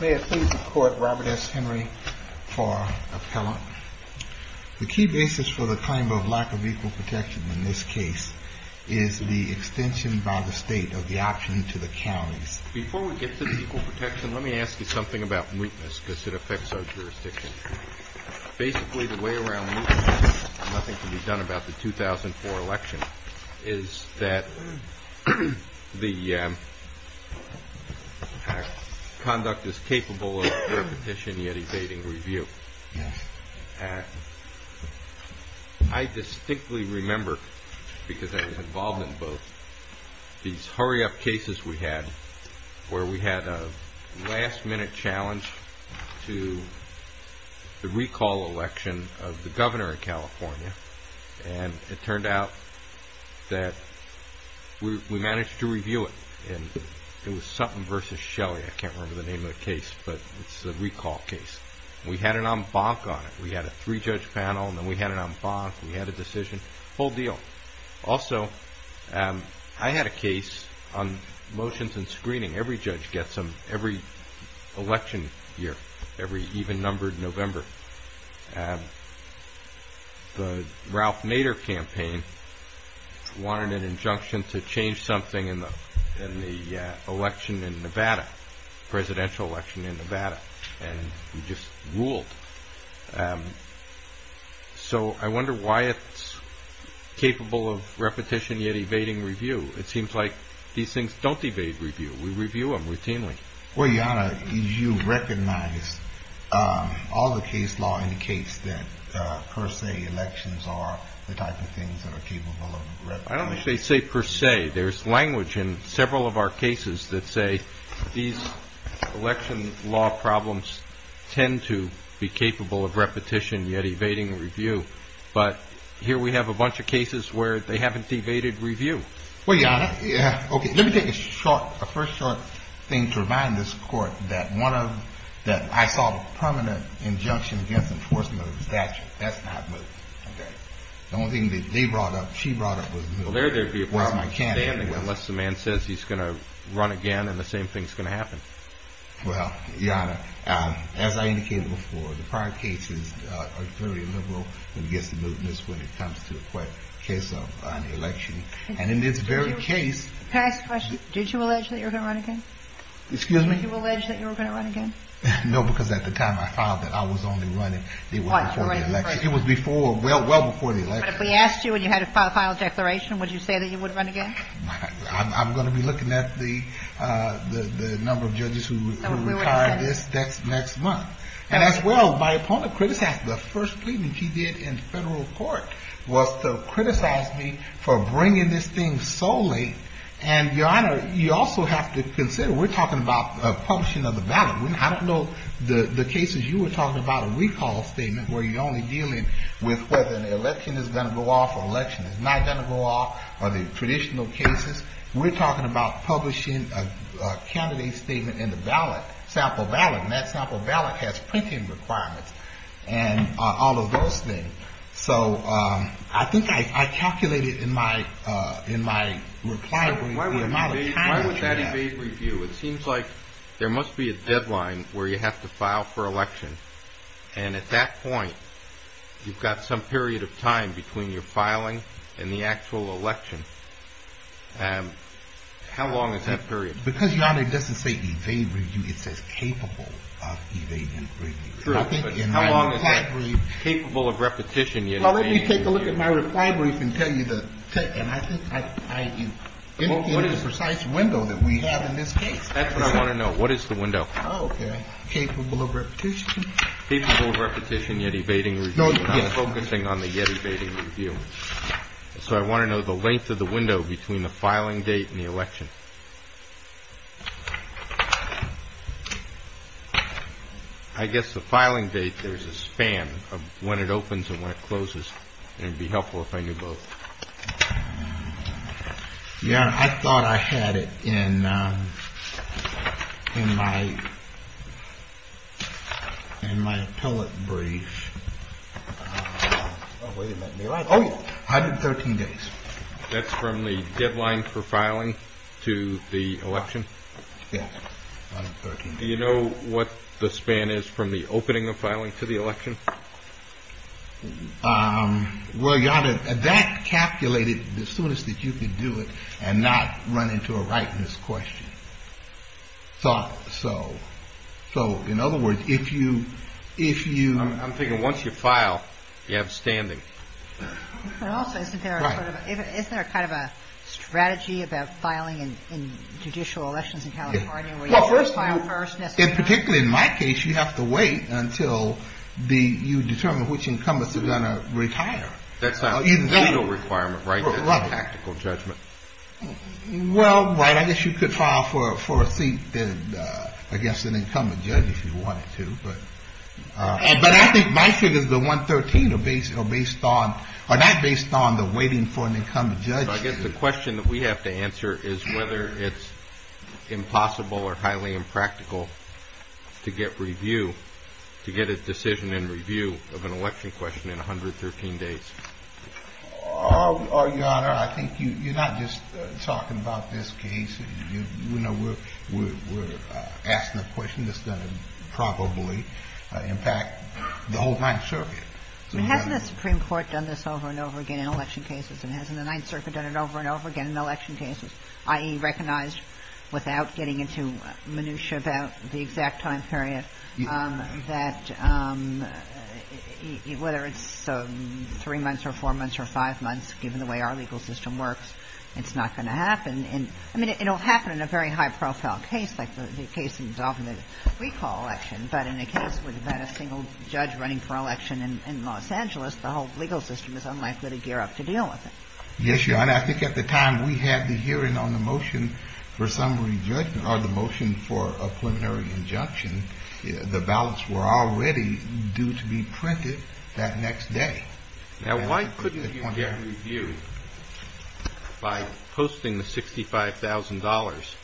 May I please report Robert S. Henry for appellant? The key basis for the claim of lack of equal protection in this case is the extension by the state of the option to the counties. Before we get to the equal protection, let me ask you something about weakness, because it affects our jurisdiction. Basically, the way around nothing can be done about the 2004 election is that the conduct is capable of repetition yet evading review. I distinctly remember, because I was involved in both, these hurry-up cases we had, where we had a last-minute challenge to the recall election of the governor in California, and it turned out that we managed to review it, and it was Sutton v. Shelley, I can't remember the name of the case, but it's the recall case. We had an en banc on it. We had a three-judge panel, and then we had an en banc, we had a decision, full deal. Also, I had a case on motions and screening. Every judge gets them every election year, every even-numbered November. The Ralph Nader campaign wanted an injunction to change something in the election in Nevada, presidential election in Nevada, and we just ruled. So I wonder why it's capable of repetition yet evading review. It seems like these things don't evade review. We review them routinely. Well, Your Honor, you recognize all the case law indicates that per se elections are the type of things that are capable of repetition. I don't think they say per se. There's language in several of our cases that say these election law problems tend to be capable of repetition yet evading review. But here we have a bunch of cases where they haven't evaded review. Well, Your Honor, let me take a first short thing to remind this court that I saw a permanent injunction against enforcement of the statute. That's not moving. The only thing that they brought up, she brought up, was military. Well, there would be a person standing unless the man says he's going to run again and the same thing's going to happen. Well, Your Honor, as I indicated before, the prior cases are very liberal when it gets to movements when it comes to a case of an election. And in this very case. Can I ask a question? Did you allege that you were going to run again? Excuse me? Did you allege that you were going to run again? No, because at the time I filed that I was only running the election. It was before, well before the election. But if we asked you and you had a final declaration, would you say that you would run again? I'm going to be looking at the number of judges who retire next month. And as well, my opponent criticized the first plea that he did in federal court was to criticize me for bringing this thing so late. And, Your Honor, you also have to consider, we're talking about the publishing of the ballot. I don't know the cases you were talking about, a recall statement where you're only dealing with whether an election is going to go off or an election is not going to go off or the traditional cases. We're talking about publishing a candidate statement in the ballot, sample ballot. And that sample ballot has printing requirements and all of those things. So I think I calculated in my reply the amount of time that you have. Why would that evade review? It seems like there must be a deadline where you have to file for election. And at that point, you've got some period of time between your filing and the actual election. How long is that period? Because, Your Honor, it doesn't say evade review. It says capable of evading review. How long is that? Capable of repetition. Well, let me take a look at my reply brief and tell you the – and I think I – in the precise window that we have in this case. That's what I want to know. What is the window? Oh, okay. Capable of repetition. Capable of repetition, yet evading review. I'm focusing on the yet evading review. So I want to know the length of the window between the filing date and the election. I guess the filing date, there's a span of when it opens and when it closes. And it would be helpful if I knew both. Your Honor, I thought I had it in my – in my appellate brief. Oh, wait a minute. Oh, 113 days. That's from the deadline for filing to the election? Yes, 113 days. Do you know what the span is from the opening of filing to the election? Well, Your Honor, that calculated the soonest that you could do it and not run into a rightness question. Thought so. So, in other words, if you – if you – I'm thinking once you file, you have standing. But also, isn't there a sort of – isn't there kind of a strategy about filing in judicial elections in California where you file first? And particularly in my case, you have to wait until the – you determine which incumbents are going to retire. That's a legal requirement, right? Right. That's a tactical judgment. Well, right. I guess you could file for a seat in, I guess, an incumbent judge if you wanted to. But I think my figures, the 113, are based on – are not based on the waiting for an incumbent judge. So I guess the question that we have to answer is whether it's impossible or highly impractical to get review – to get a decision in review of an election question in 113 days. Your Honor, I think you're not just talking about this case. You know, we're asking a question that's going to probably impact the whole Ninth Circuit. I mean, hasn't the Supreme Court done this over and over again in election cases? And hasn't the Ninth Circuit done it over and over again in election cases, i.e., recognized without getting into minutia about the exact time period that whether it's three months or four months or five months, given the way our legal system works, it's not going to happen in – I mean, it'll happen in a very high-profile case like the case involving the recall election. But in a case without a single judge running for election in Los Angeles, the whole legal system is unlikely to gear up to deal with it. Yes, Your Honor. I think at the time we had the hearing on the motion for summary – or the motion for a preliminary injunction, the ballots were already due to be printed that next day. Now, why couldn't you get a review by posting the $65,000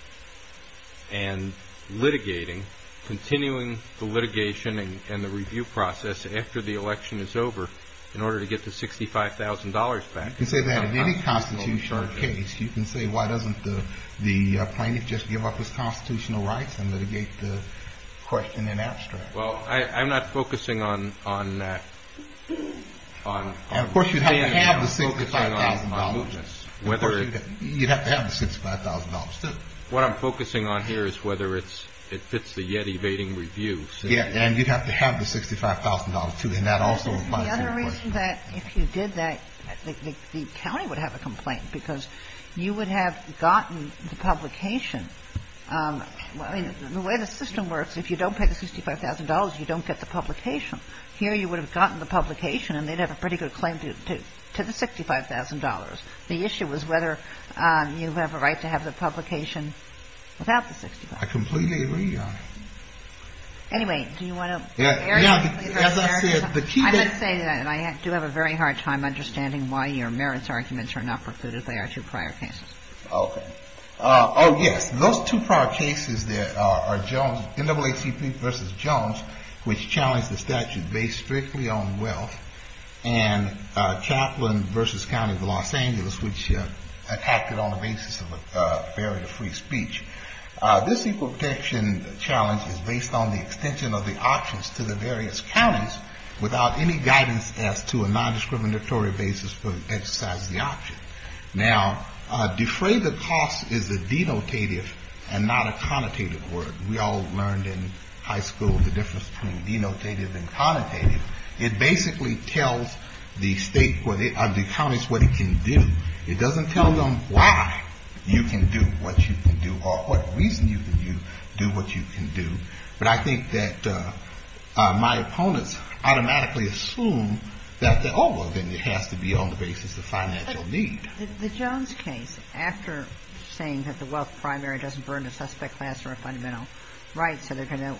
and litigating, continuing the litigation and the review process after the election is over in order to get the $65,000 back? You can say that in any constitutional case. You can say, why doesn't the plaintiff just give up his constitutional rights and litigate the question in abstract? Well, I'm not focusing on that. Of course, you'd have to have the $65,000. Of course, you'd have to have the $65,000, too. What I'm focusing on here is whether it fits the yet evading review. Yes. And you'd have to have the $65,000, too. And that also applies to the question. The other reason that if you did that, the county would have a complaint because you would have gotten the publication. The way the system works, if you don't pay the $65,000, you don't get the publication. Here, you would have gotten the publication, and they'd have a pretty good claim to the $65,000. The issue was whether you have a right to have the publication without the $65,000. I completely agree, Your Honor. Anyway, do you want to error me? No. As I said, the key thing to say, and I do have a very hard time understanding why your merits arguments are not precluded by our two prior cases. Okay. Oh, yes. Those two prior cases are NAACP v. Jones, which challenged the statute based strictly on wealth, and Chaplin v. County of Los Angeles, which acted on the basis of a barrier to free speech. This equal protection challenge is based on the extension of the options to the various counties without any guidance as to a non-discriminatory basis for exercising the option. Now, defray the cost is a denotative and not a connotative word. We all learned in high school the difference between denotative and connotative. It basically tells the counties what it can do. It doesn't tell them why you can do what you can do or what reason you can do what you can do. But I think that my opponents automatically assume that, oh, well, then it has to be on the basis of financial need. The Jones case, after saying that the wealth primary doesn't burden a suspect class or a fundamental right, so they're going to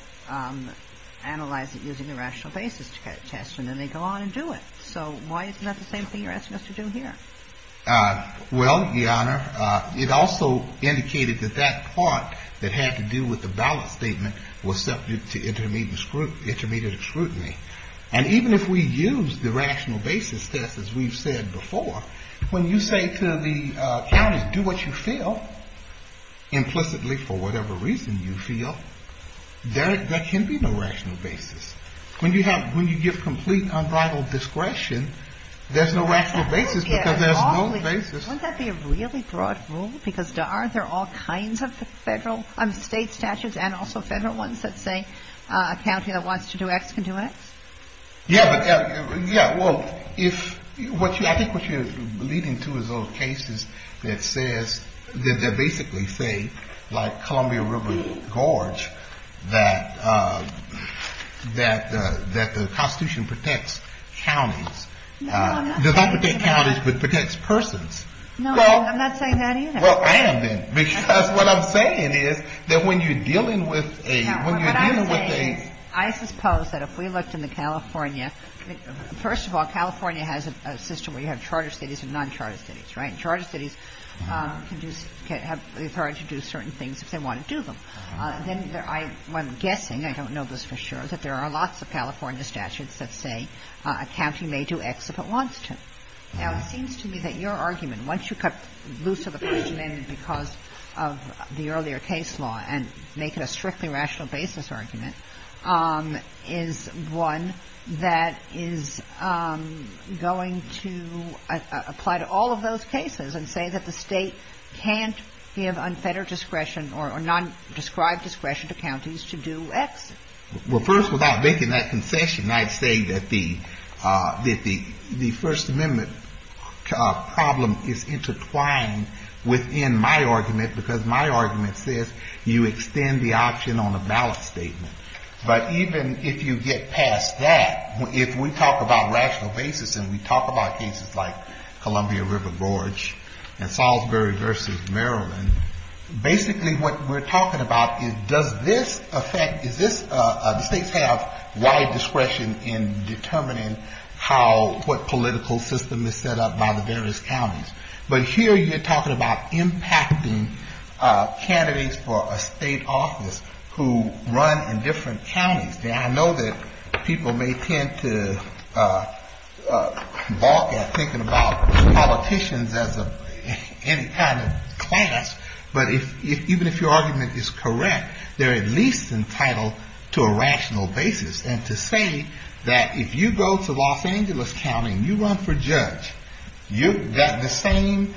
analyze it using the rational basis test, and then they go on and do it. So why isn't that the same thing you're asking us to do here? Well, Your Honor, it also indicated that that part that had to do with the ballot statement was subject to intermediate scrutiny. And even if we use the rational basis test, as we've said before, when you say to the county, do what you feel, implicitly for whatever reason you feel, there can be no rational basis. When you give complete and unbridled discretion, there's no rational basis because there's no basis. Wouldn't that be a really broad rule? Because aren't there all kinds of state statutes and also federal ones that say a county that wants to do X can do X? Yeah, well, I think what you're leading to is those cases that basically say, like Columbia River Gorge, that the Constitution protects counties. No, I'm not saying that. It doesn't protect counties, but it protects persons. No, I'm not saying that either. Well, I am then. Because what I'm saying is that when you're dealing with a... Well, let's suppose that if we looked in the California... First of all, California has a system where you have charter cities and non-charter cities, right? And charter cities can have the authority to do certain things if they want to do them. Then I'm guessing, I don't know this for sure, that there are lots of California statutes that say a county may do X if it wants to. Now, it seems to me that your argument, once you cut loose of the First Amendment because of the earlier case law and make it a strictly rational basis argument, is one that is going to apply to all of those cases and say that the State can't give unfettered discretion or non-described discretion to counties to do X. Well, first, without making that concession, I'd say that the First Amendment problem is intertwined within my argument because my argument says you extend the But even if you get past that, if we talk about rational basis and we talk about cases like Columbia River Gorge and Salisbury versus Maryland, basically what we're talking about is does this affect, do states have wide discretion in determining what political system is set up by the various counties? But here you're talking about impacting candidates for a state office who run indifferently from counties. Now, I know that people may tend to balk at thinking about politicians as any kind of class, but even if your argument is correct, they're at least entitled to a rational basis and to say that if you go to Los Angeles County and you run for judge, that the same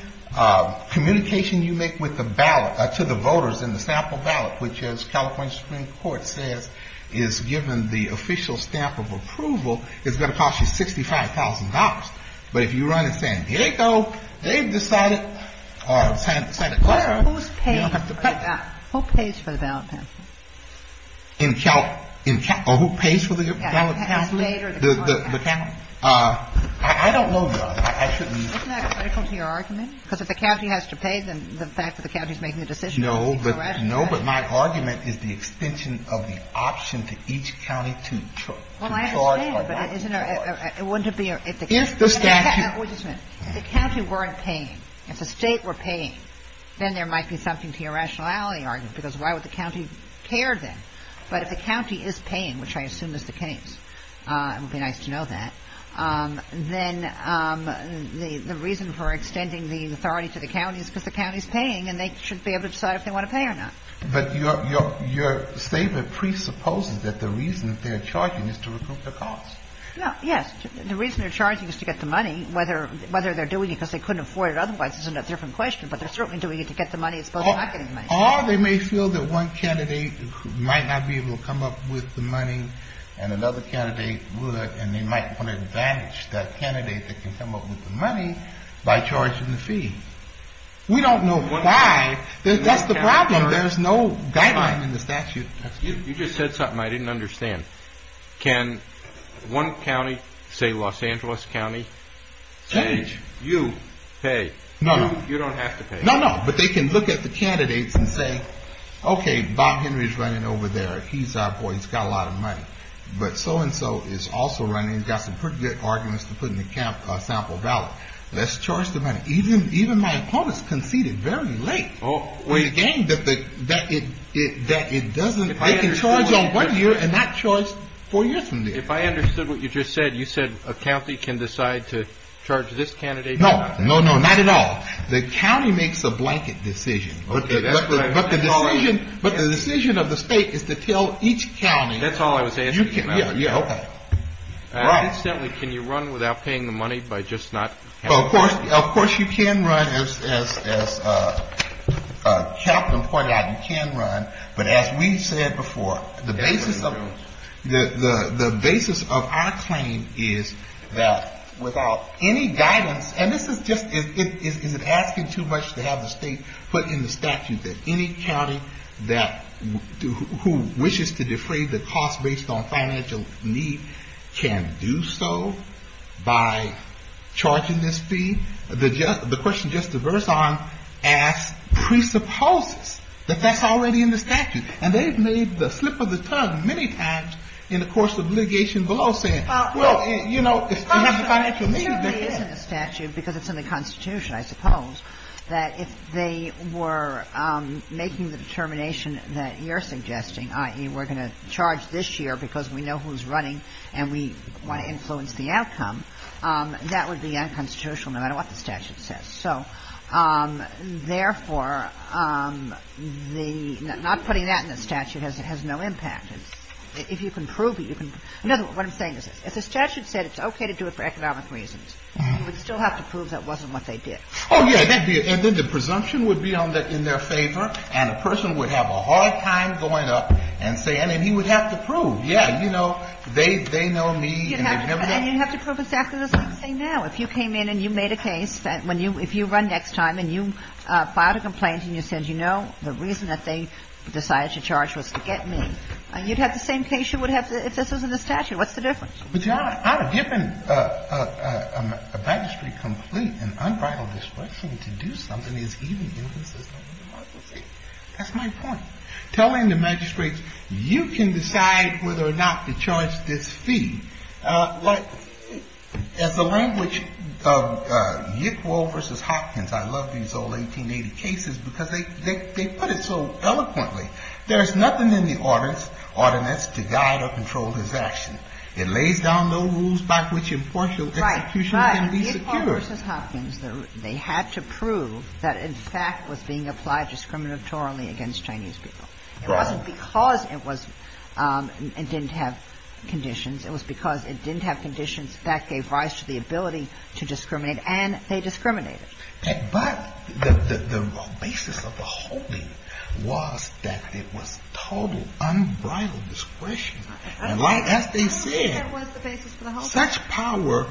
communication you make with the ballot, to the voters in the sample ballot, which as California Supreme Court says, is given the official stamp of approval, is going to cost you $65,000. But if you run in San Diego, they've decided, or Santa Clara, you don't have to pay. Who pays for the ballot? Who pays for the ballot? The county? I don't know, Judge. I shouldn't. Isn't that critical to your argument? Because if the county has to pay, then the fact that the county is making a decision. No, but my argument is the extension of the option to each county to charge. Well, I understand, but wouldn't it be if the county weren't paying, if the state were paying, then there might be something to your rationality argument, because why would the county care then? But if the county is paying, which I assume is the case, it would be nice to know that, then the reason for extending the authority to the county is because the county is paying and they should be able to decide if they want to pay or not. But your statement presupposes that the reason they're charging is to recoup the cost. Yes, the reason they're charging is to get the money, whether they're doing it because they couldn't afford it otherwise is a different question, but they're certainly doing it to get the money as opposed to not getting the money. Or they may feel that one candidate might not be able to come up with the money and another candidate would, and they might want to advantage that candidate that can come up with the money by charging the fee. We don't know why. That's the problem. There's no guideline in the statute. You just said something I didn't understand. Can one county, say Los Angeles County, say you pay? No. You don't have to pay. No, no, but they can look at the candidates and say, okay, Bob Henry's running over there. He's our boy. He's got a lot of money. But so-and-so is also running, got some pretty good arguments to put in the sample ballot. Let's charge the money. Even my opponents conceded very late in the game that it doesn't, they can charge on one year and not charge four years from then. If I understood what you just said, you said a county can decide to charge this candidate or not? No, no, no, not at all. The county makes a blanket decision, but the decision of the state is to tell each county. That's all I was asking about. Yeah, yeah, okay. Incidentally, can you run without paying the money by just not having to pay? Of course you can run, as Captain pointed out, you can run. But as we've said before, the basis of our claim is that without any guidance, and this is just, is it asking too much to have the state put in the statute that any county that, who wishes to defray the cost based on financial need can do so by charging this fee? The question Justice Verzon asked presupposes that that's already in the statute. And they've made the slip of the tongue many times in the course of litigation below saying, well, you know, it's financial need. The statute isn't a statute because it's in the Constitution, I suppose, that if they were making the determination that you're suggesting, i.e., we're going to charge this year because we know who's running and we want to influence the outcome, that would be unconstitutional no matter what the statute says. So, therefore, the — not putting that in the statute has no impact. If you can prove it, you can — no, what I'm saying is if the statute said it's okay to do it for economic reasons, you would still have to prove that wasn't what they did. Oh, yeah. And then the presumption would be in their favor, and a person would have a hard time going up and saying — and he would have to prove, yeah, you know, they know me and they've — And you'd have to prove exactly the same thing now. If you came in and you made a case that when you — if you run next time and you filed a complaint and you said, you know, the reason that they decided to charge was to get me, you'd have the same case you would have if this was in the statute. What's the difference? But, John, out of giving a magistrate complete and unbridled discretion to do something is even in the system of democracy. That's my point. Telling the magistrates, you can decide whether or not to charge this fee. Like, as the language of Yickwell versus Hopkins, I love these old 1880 cases because they put it so eloquently. There's nothing in the ordinance to guide or control his action. It lays down no rules by which impartial execution can be secure. But Yickwell versus Hopkins, they had to prove that, in fact, was being applied discriminatorily against Chinese people. It wasn't because it was — it didn't have conditions. It was because it didn't have conditions that gave rise to the ability to discriminate, and they discriminated. But the basis of the holding was that it was total unbridled discretion. And as they said, such power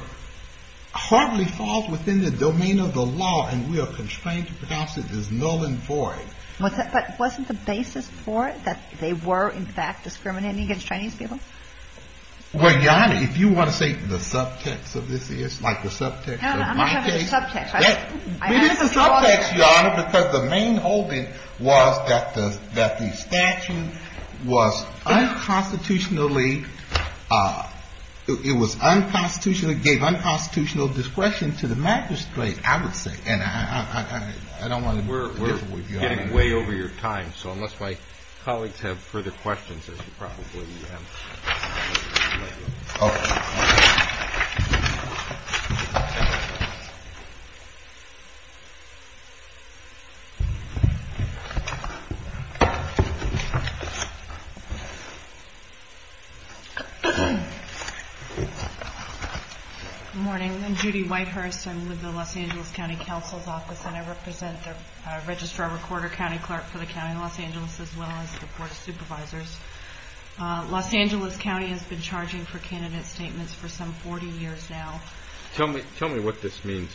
hardly falls within the domain of the law, and we are constrained to pronounce it as null and void. But wasn't the basis for it that they were, in fact, discriminating against Chinese people? Well, Your Honor, if you want to say the subtext of this is, like the subtext of my case — No, no, I'm not talking about the subtext. It is the subtext, Your Honor, because the main holding was that the statute was unconstitutionally — it was unconstitutionally — gave unconstitutional discretion to the magistrate, I would say. And I don't want to — We're getting way over your time, so unless my colleagues have further questions, there's probably — Oh. Good morning. I'm Judy Whitehurst. I'm with the Los Angeles County Counsel's Office, and I represent the Registrar-Recorder County Clerk for the County of Los Angeles as well as the Board of Supervisors. Los Angeles County has been charging for candidate statements for some 40 years now. Tell me what this means.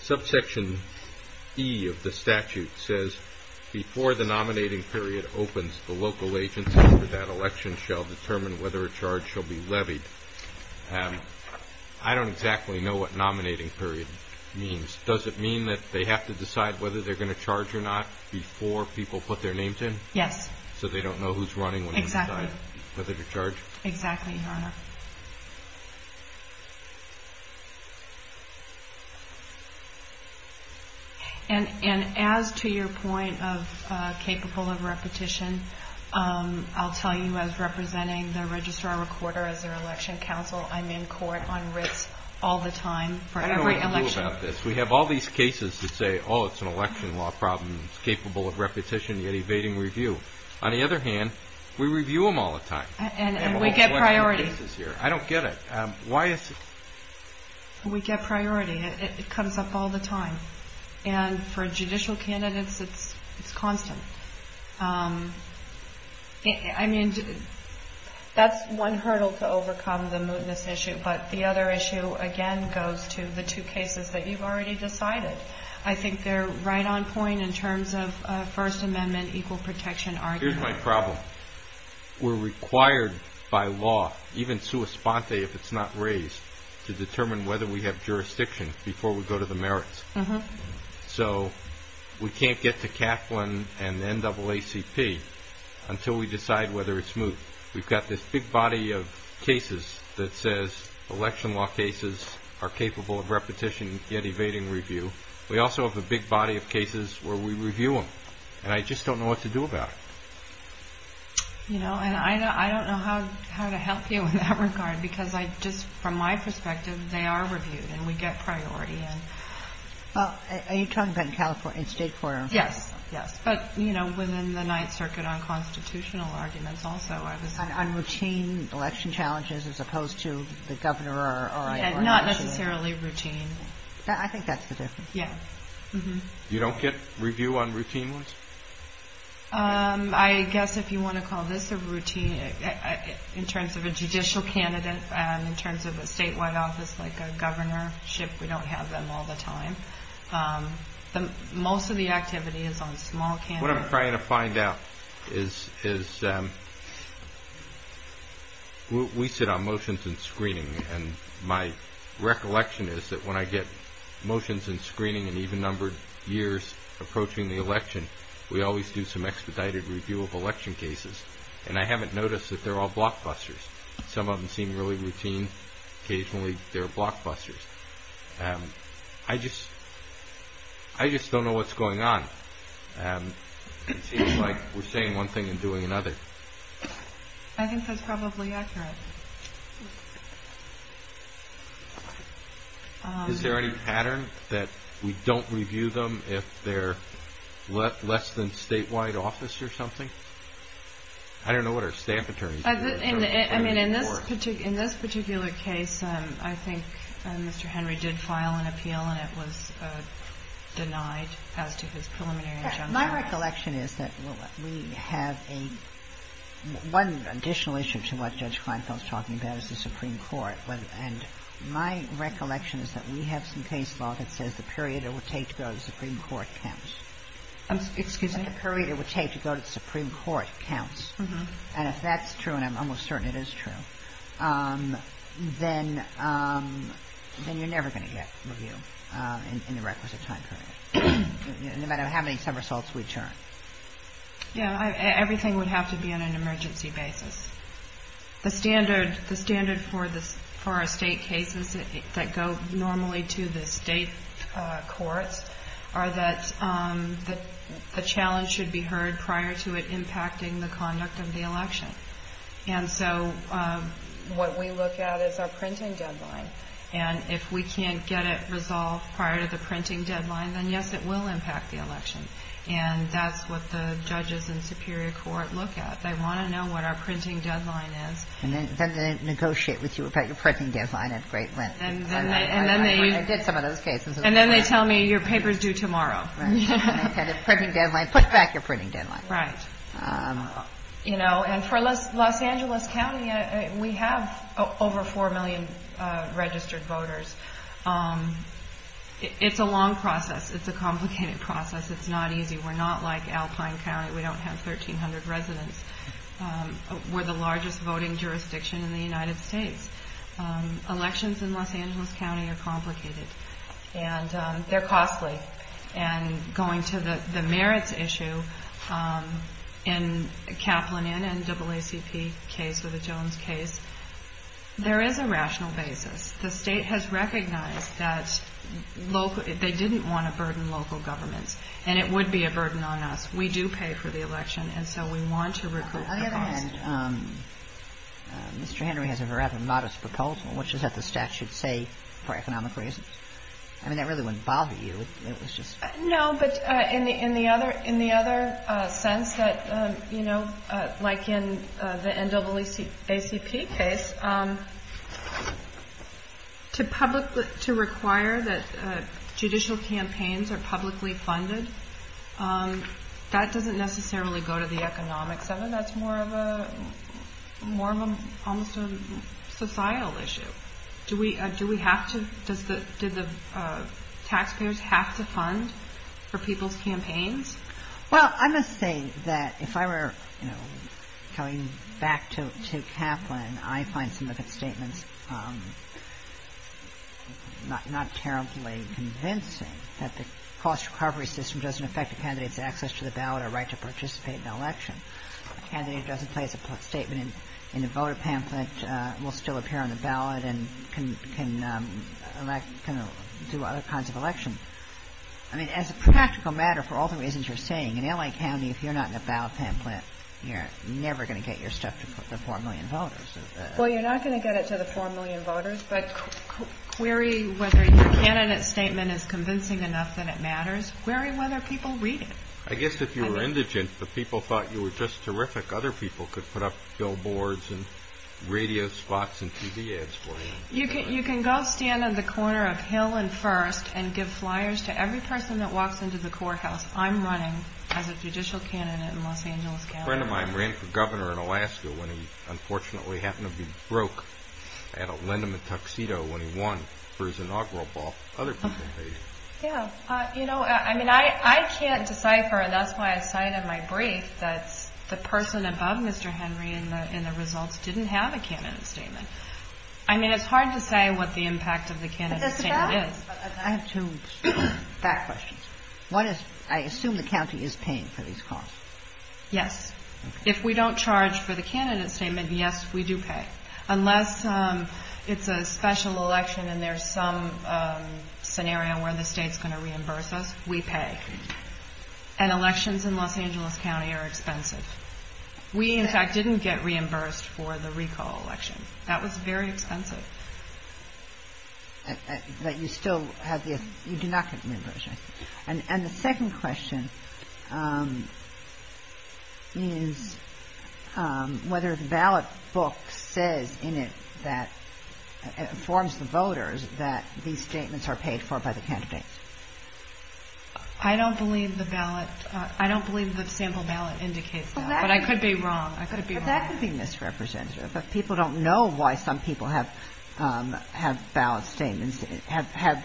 Subsection E of the statute says, Before the nominating period opens, the local agency for that election shall determine whether a charge shall be levied. I don't exactly know what nominating period means. Does it mean that they have to decide whether they're going to charge or not before people put their names in? Yes. So they don't know who's running when they decide whether to charge? Exactly, Your Honor. And as to your point of capable of repetition, I'll tell you as representing the Registrar-Recorder as their election counsel, I'm in court on writs all the time for every election. I don't know what to do about this. We have all these cases that say, oh, it's an election law problem. It's capable of repetition, yet evading review. On the other hand, we review them all the time. And we get priority. I don't get it. We get priority. It comes up all the time. And for judicial candidates, it's constant. I mean, that's one hurdle to overcome, the mootness issue. But the other issue, again, goes to the two cases that you've already decided. I think they're right on point in terms of First Amendment equal protection argument. Here's my problem. We're required by law, even sua sponte if it's not raised, to determine whether we have jurisdiction before we go to the merits. So we can't get to Kaplan and NAACP until we decide whether it's moot. We've got this big body of cases that says election law cases are capable of repetition, yet evading review. We also have a big body of cases where we review them. And I just don't know what to do about it. You know, and I don't know how to help you in that regard. Because I just, from my perspective, they are reviewed. And we get priority. Are you talking about in California, state court? Yes. Yes. But, you know, within the Ninth Circuit, unconstitutional arguments also are the same. On routine election challenges as opposed to the governor or election. Not necessarily routine. I think that's the difference. Yeah. You don't get review on routine ones? I guess if you want to call this a routine, in terms of a judicial candidate, in terms of a statewide office, like a governorship, we don't have them all the time. Most of the activity is on small candidates. What I'm trying to find out is we sit on motions and screening. And my recollection is that when I get motions and screening and even numbered years approaching the election, we always do some expedited review of election cases. And I haven't noticed that they're all blockbusters. Some of them seem really routine. Occasionally they're blockbusters. I just don't know what's going on. It seems like we're saying one thing and doing another. I think that's probably accurate. Is there any pattern that we don't review them if they're less than statewide office or something? I don't know what our staff attorneys do. In this particular case, I think Mr. Henry did file an appeal, and it was denied as to his preliminary injunction. My recollection is that we have a one additional issue to what Judge Kleinfeld is talking about is the Supreme Court. And my recollection is that we have some case law that says the period it would take to go to the Supreme Court counts. Excuse me? The period it would take to go to the Supreme Court counts. And if that's true, and I'm almost certain it is true, then you're never going to get review in the requisite time period, no matter how many summersaults we turn. Yeah, everything would have to be on an emergency basis. The standard for our state cases that go normally to the state courts are that the challenge should be heard prior to it And so what we look at is our printing deadline. And if we can't get it resolved prior to the printing deadline, then, yes, it will impact the election. And that's what the judges in the Superior Court look at. They want to know what our printing deadline is. And then they negotiate with you about your printing deadline at great length. I did some of those cases. And then they tell me your paper's due tomorrow. Right. And the printing deadline, put back your printing deadline. Right. You know, and for Los Angeles County, we have over 4 million registered voters. It's a long process. It's a complicated process. It's not easy. We're not like Alpine County. We don't have 1,300 residents. We're the largest voting jurisdiction in the United States. Elections in Los Angeles County are complicated. And they're costly. And going to the merits issue, in Kaplan and NAACP case or the Jones case, there is a rational basis. The state has recognized that they didn't want to burden local governments. And it would be a burden on us. We do pay for the election, and so we want to recoup the cost. On the other hand, Mr. Henry has a rather modest proposal, which is that the statute say for economic reasons. I mean, that really wouldn't bother you. No, but in the other sense that, you know, like in the NAACP case, to require that judicial campaigns are publicly funded, that doesn't necessarily go to the economics of it. That's more of almost a societal issue. Do we have to? Did the taxpayers have to fund for people's campaigns? Well, I must say that if I were, you know, going back to Kaplan, I find some of his statements not terribly convincing, that the cost recovery system doesn't affect a candidate's access to the ballot or right to participate in the election. A candidate doesn't place a statement in a voter pamphlet, will still appear on the ballot, and can do other kinds of election. I mean, as a practical matter, for all the reasons you're saying, in L.A. County, if you're not in a ballot pamphlet, you're never going to get your stuff to the 4 million voters. Well, you're not going to get it to the 4 million voters, but query whether your candidate's statement is convincing enough that it matters. Query whether people read it. I guess if you were indigent, but people thought you were just terrific, other people could put up billboards and radio spots and TV ads for you. You can go stand on the corner of Hill and First and give flyers to every person that walks into the courthouse. I'm running as a judicial candidate in Los Angeles County. A friend of mine ran for governor in Alaska when he unfortunately happened to be broke. I had to lend him a tuxedo when he won for his inaugural ball. Yeah. You know, I mean, I can't decipher, and that's why I cited my brief, that the person above Mr. Henry in the results didn't have a candidate statement. I mean, it's hard to say what the impact of the candidate statement is. I have two back questions. One is, I assume the county is paying for these calls. Yes. If we don't charge for the candidate statement, yes, we do pay. Unless it's a special election and there's some scenario where the state's going to reimburse us, we pay. And elections in Los Angeles County are expensive. We, in fact, didn't get reimbursed for the recall election. That was very expensive. But you still have the, you do not get the reimbursement. And the second question is whether the ballot book says in it that, informs the voters that these statements are paid for by the candidates. I don't believe the ballot, I don't believe the sample ballot indicates that. But I could be wrong. I could be wrong. But people don't know why some people have ballot statements, have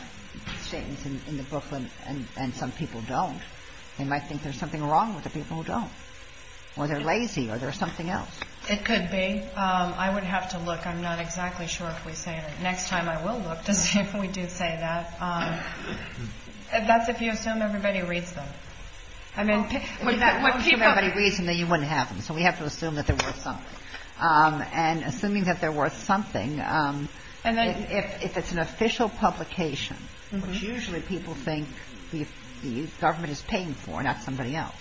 statements in the booklet and some people don't. They might think there's something wrong with the people who don't. Or they're lazy or there's something else. It could be. I would have to look. I'm not exactly sure if we say it. Next time I will look to see if we do say that. That's if you assume everybody reads them. If you assume everybody reads them, then you wouldn't have them. So we have to assume that they're worth something. And assuming that they're worth something, if it's an official publication, which usually people think the government is paying for, not somebody else,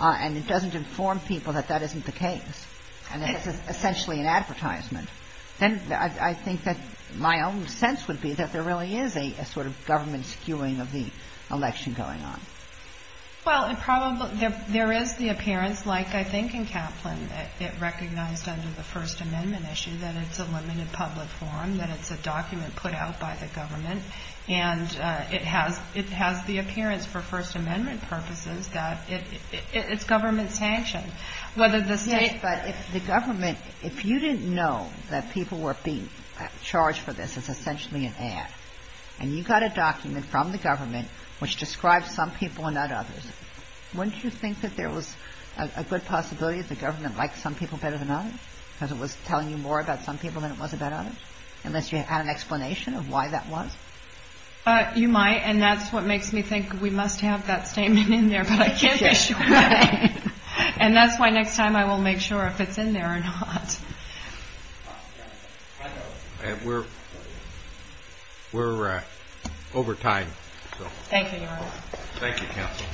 and it doesn't inform people that that isn't the case, and it's essentially an advertisement, then I think that my own sense would be that there really is a sort of government skewing of the election going on. Well, there is the appearance, like I think in Kaplan, that it recognized under the First Amendment issue that it's a limited public forum, that it's a document put out by the government, and it has the appearance for First Amendment purposes that it's government sanctioned. Yes, but if the government, if you didn't know that people were being charged for this, it's essentially an ad. And you got a document from the government which describes some people and not others. Wouldn't you think that there was a good possibility that the government liked some people better than others, because it was telling you more about some people than it was about others, unless you had an explanation of why that was? You might, and that's what makes me think we must have that statement in there, but I can't be sure. And that's why next time I will make sure if it's in there or not. We're over time. Thank you, Your Honor. Thank you, Counsel.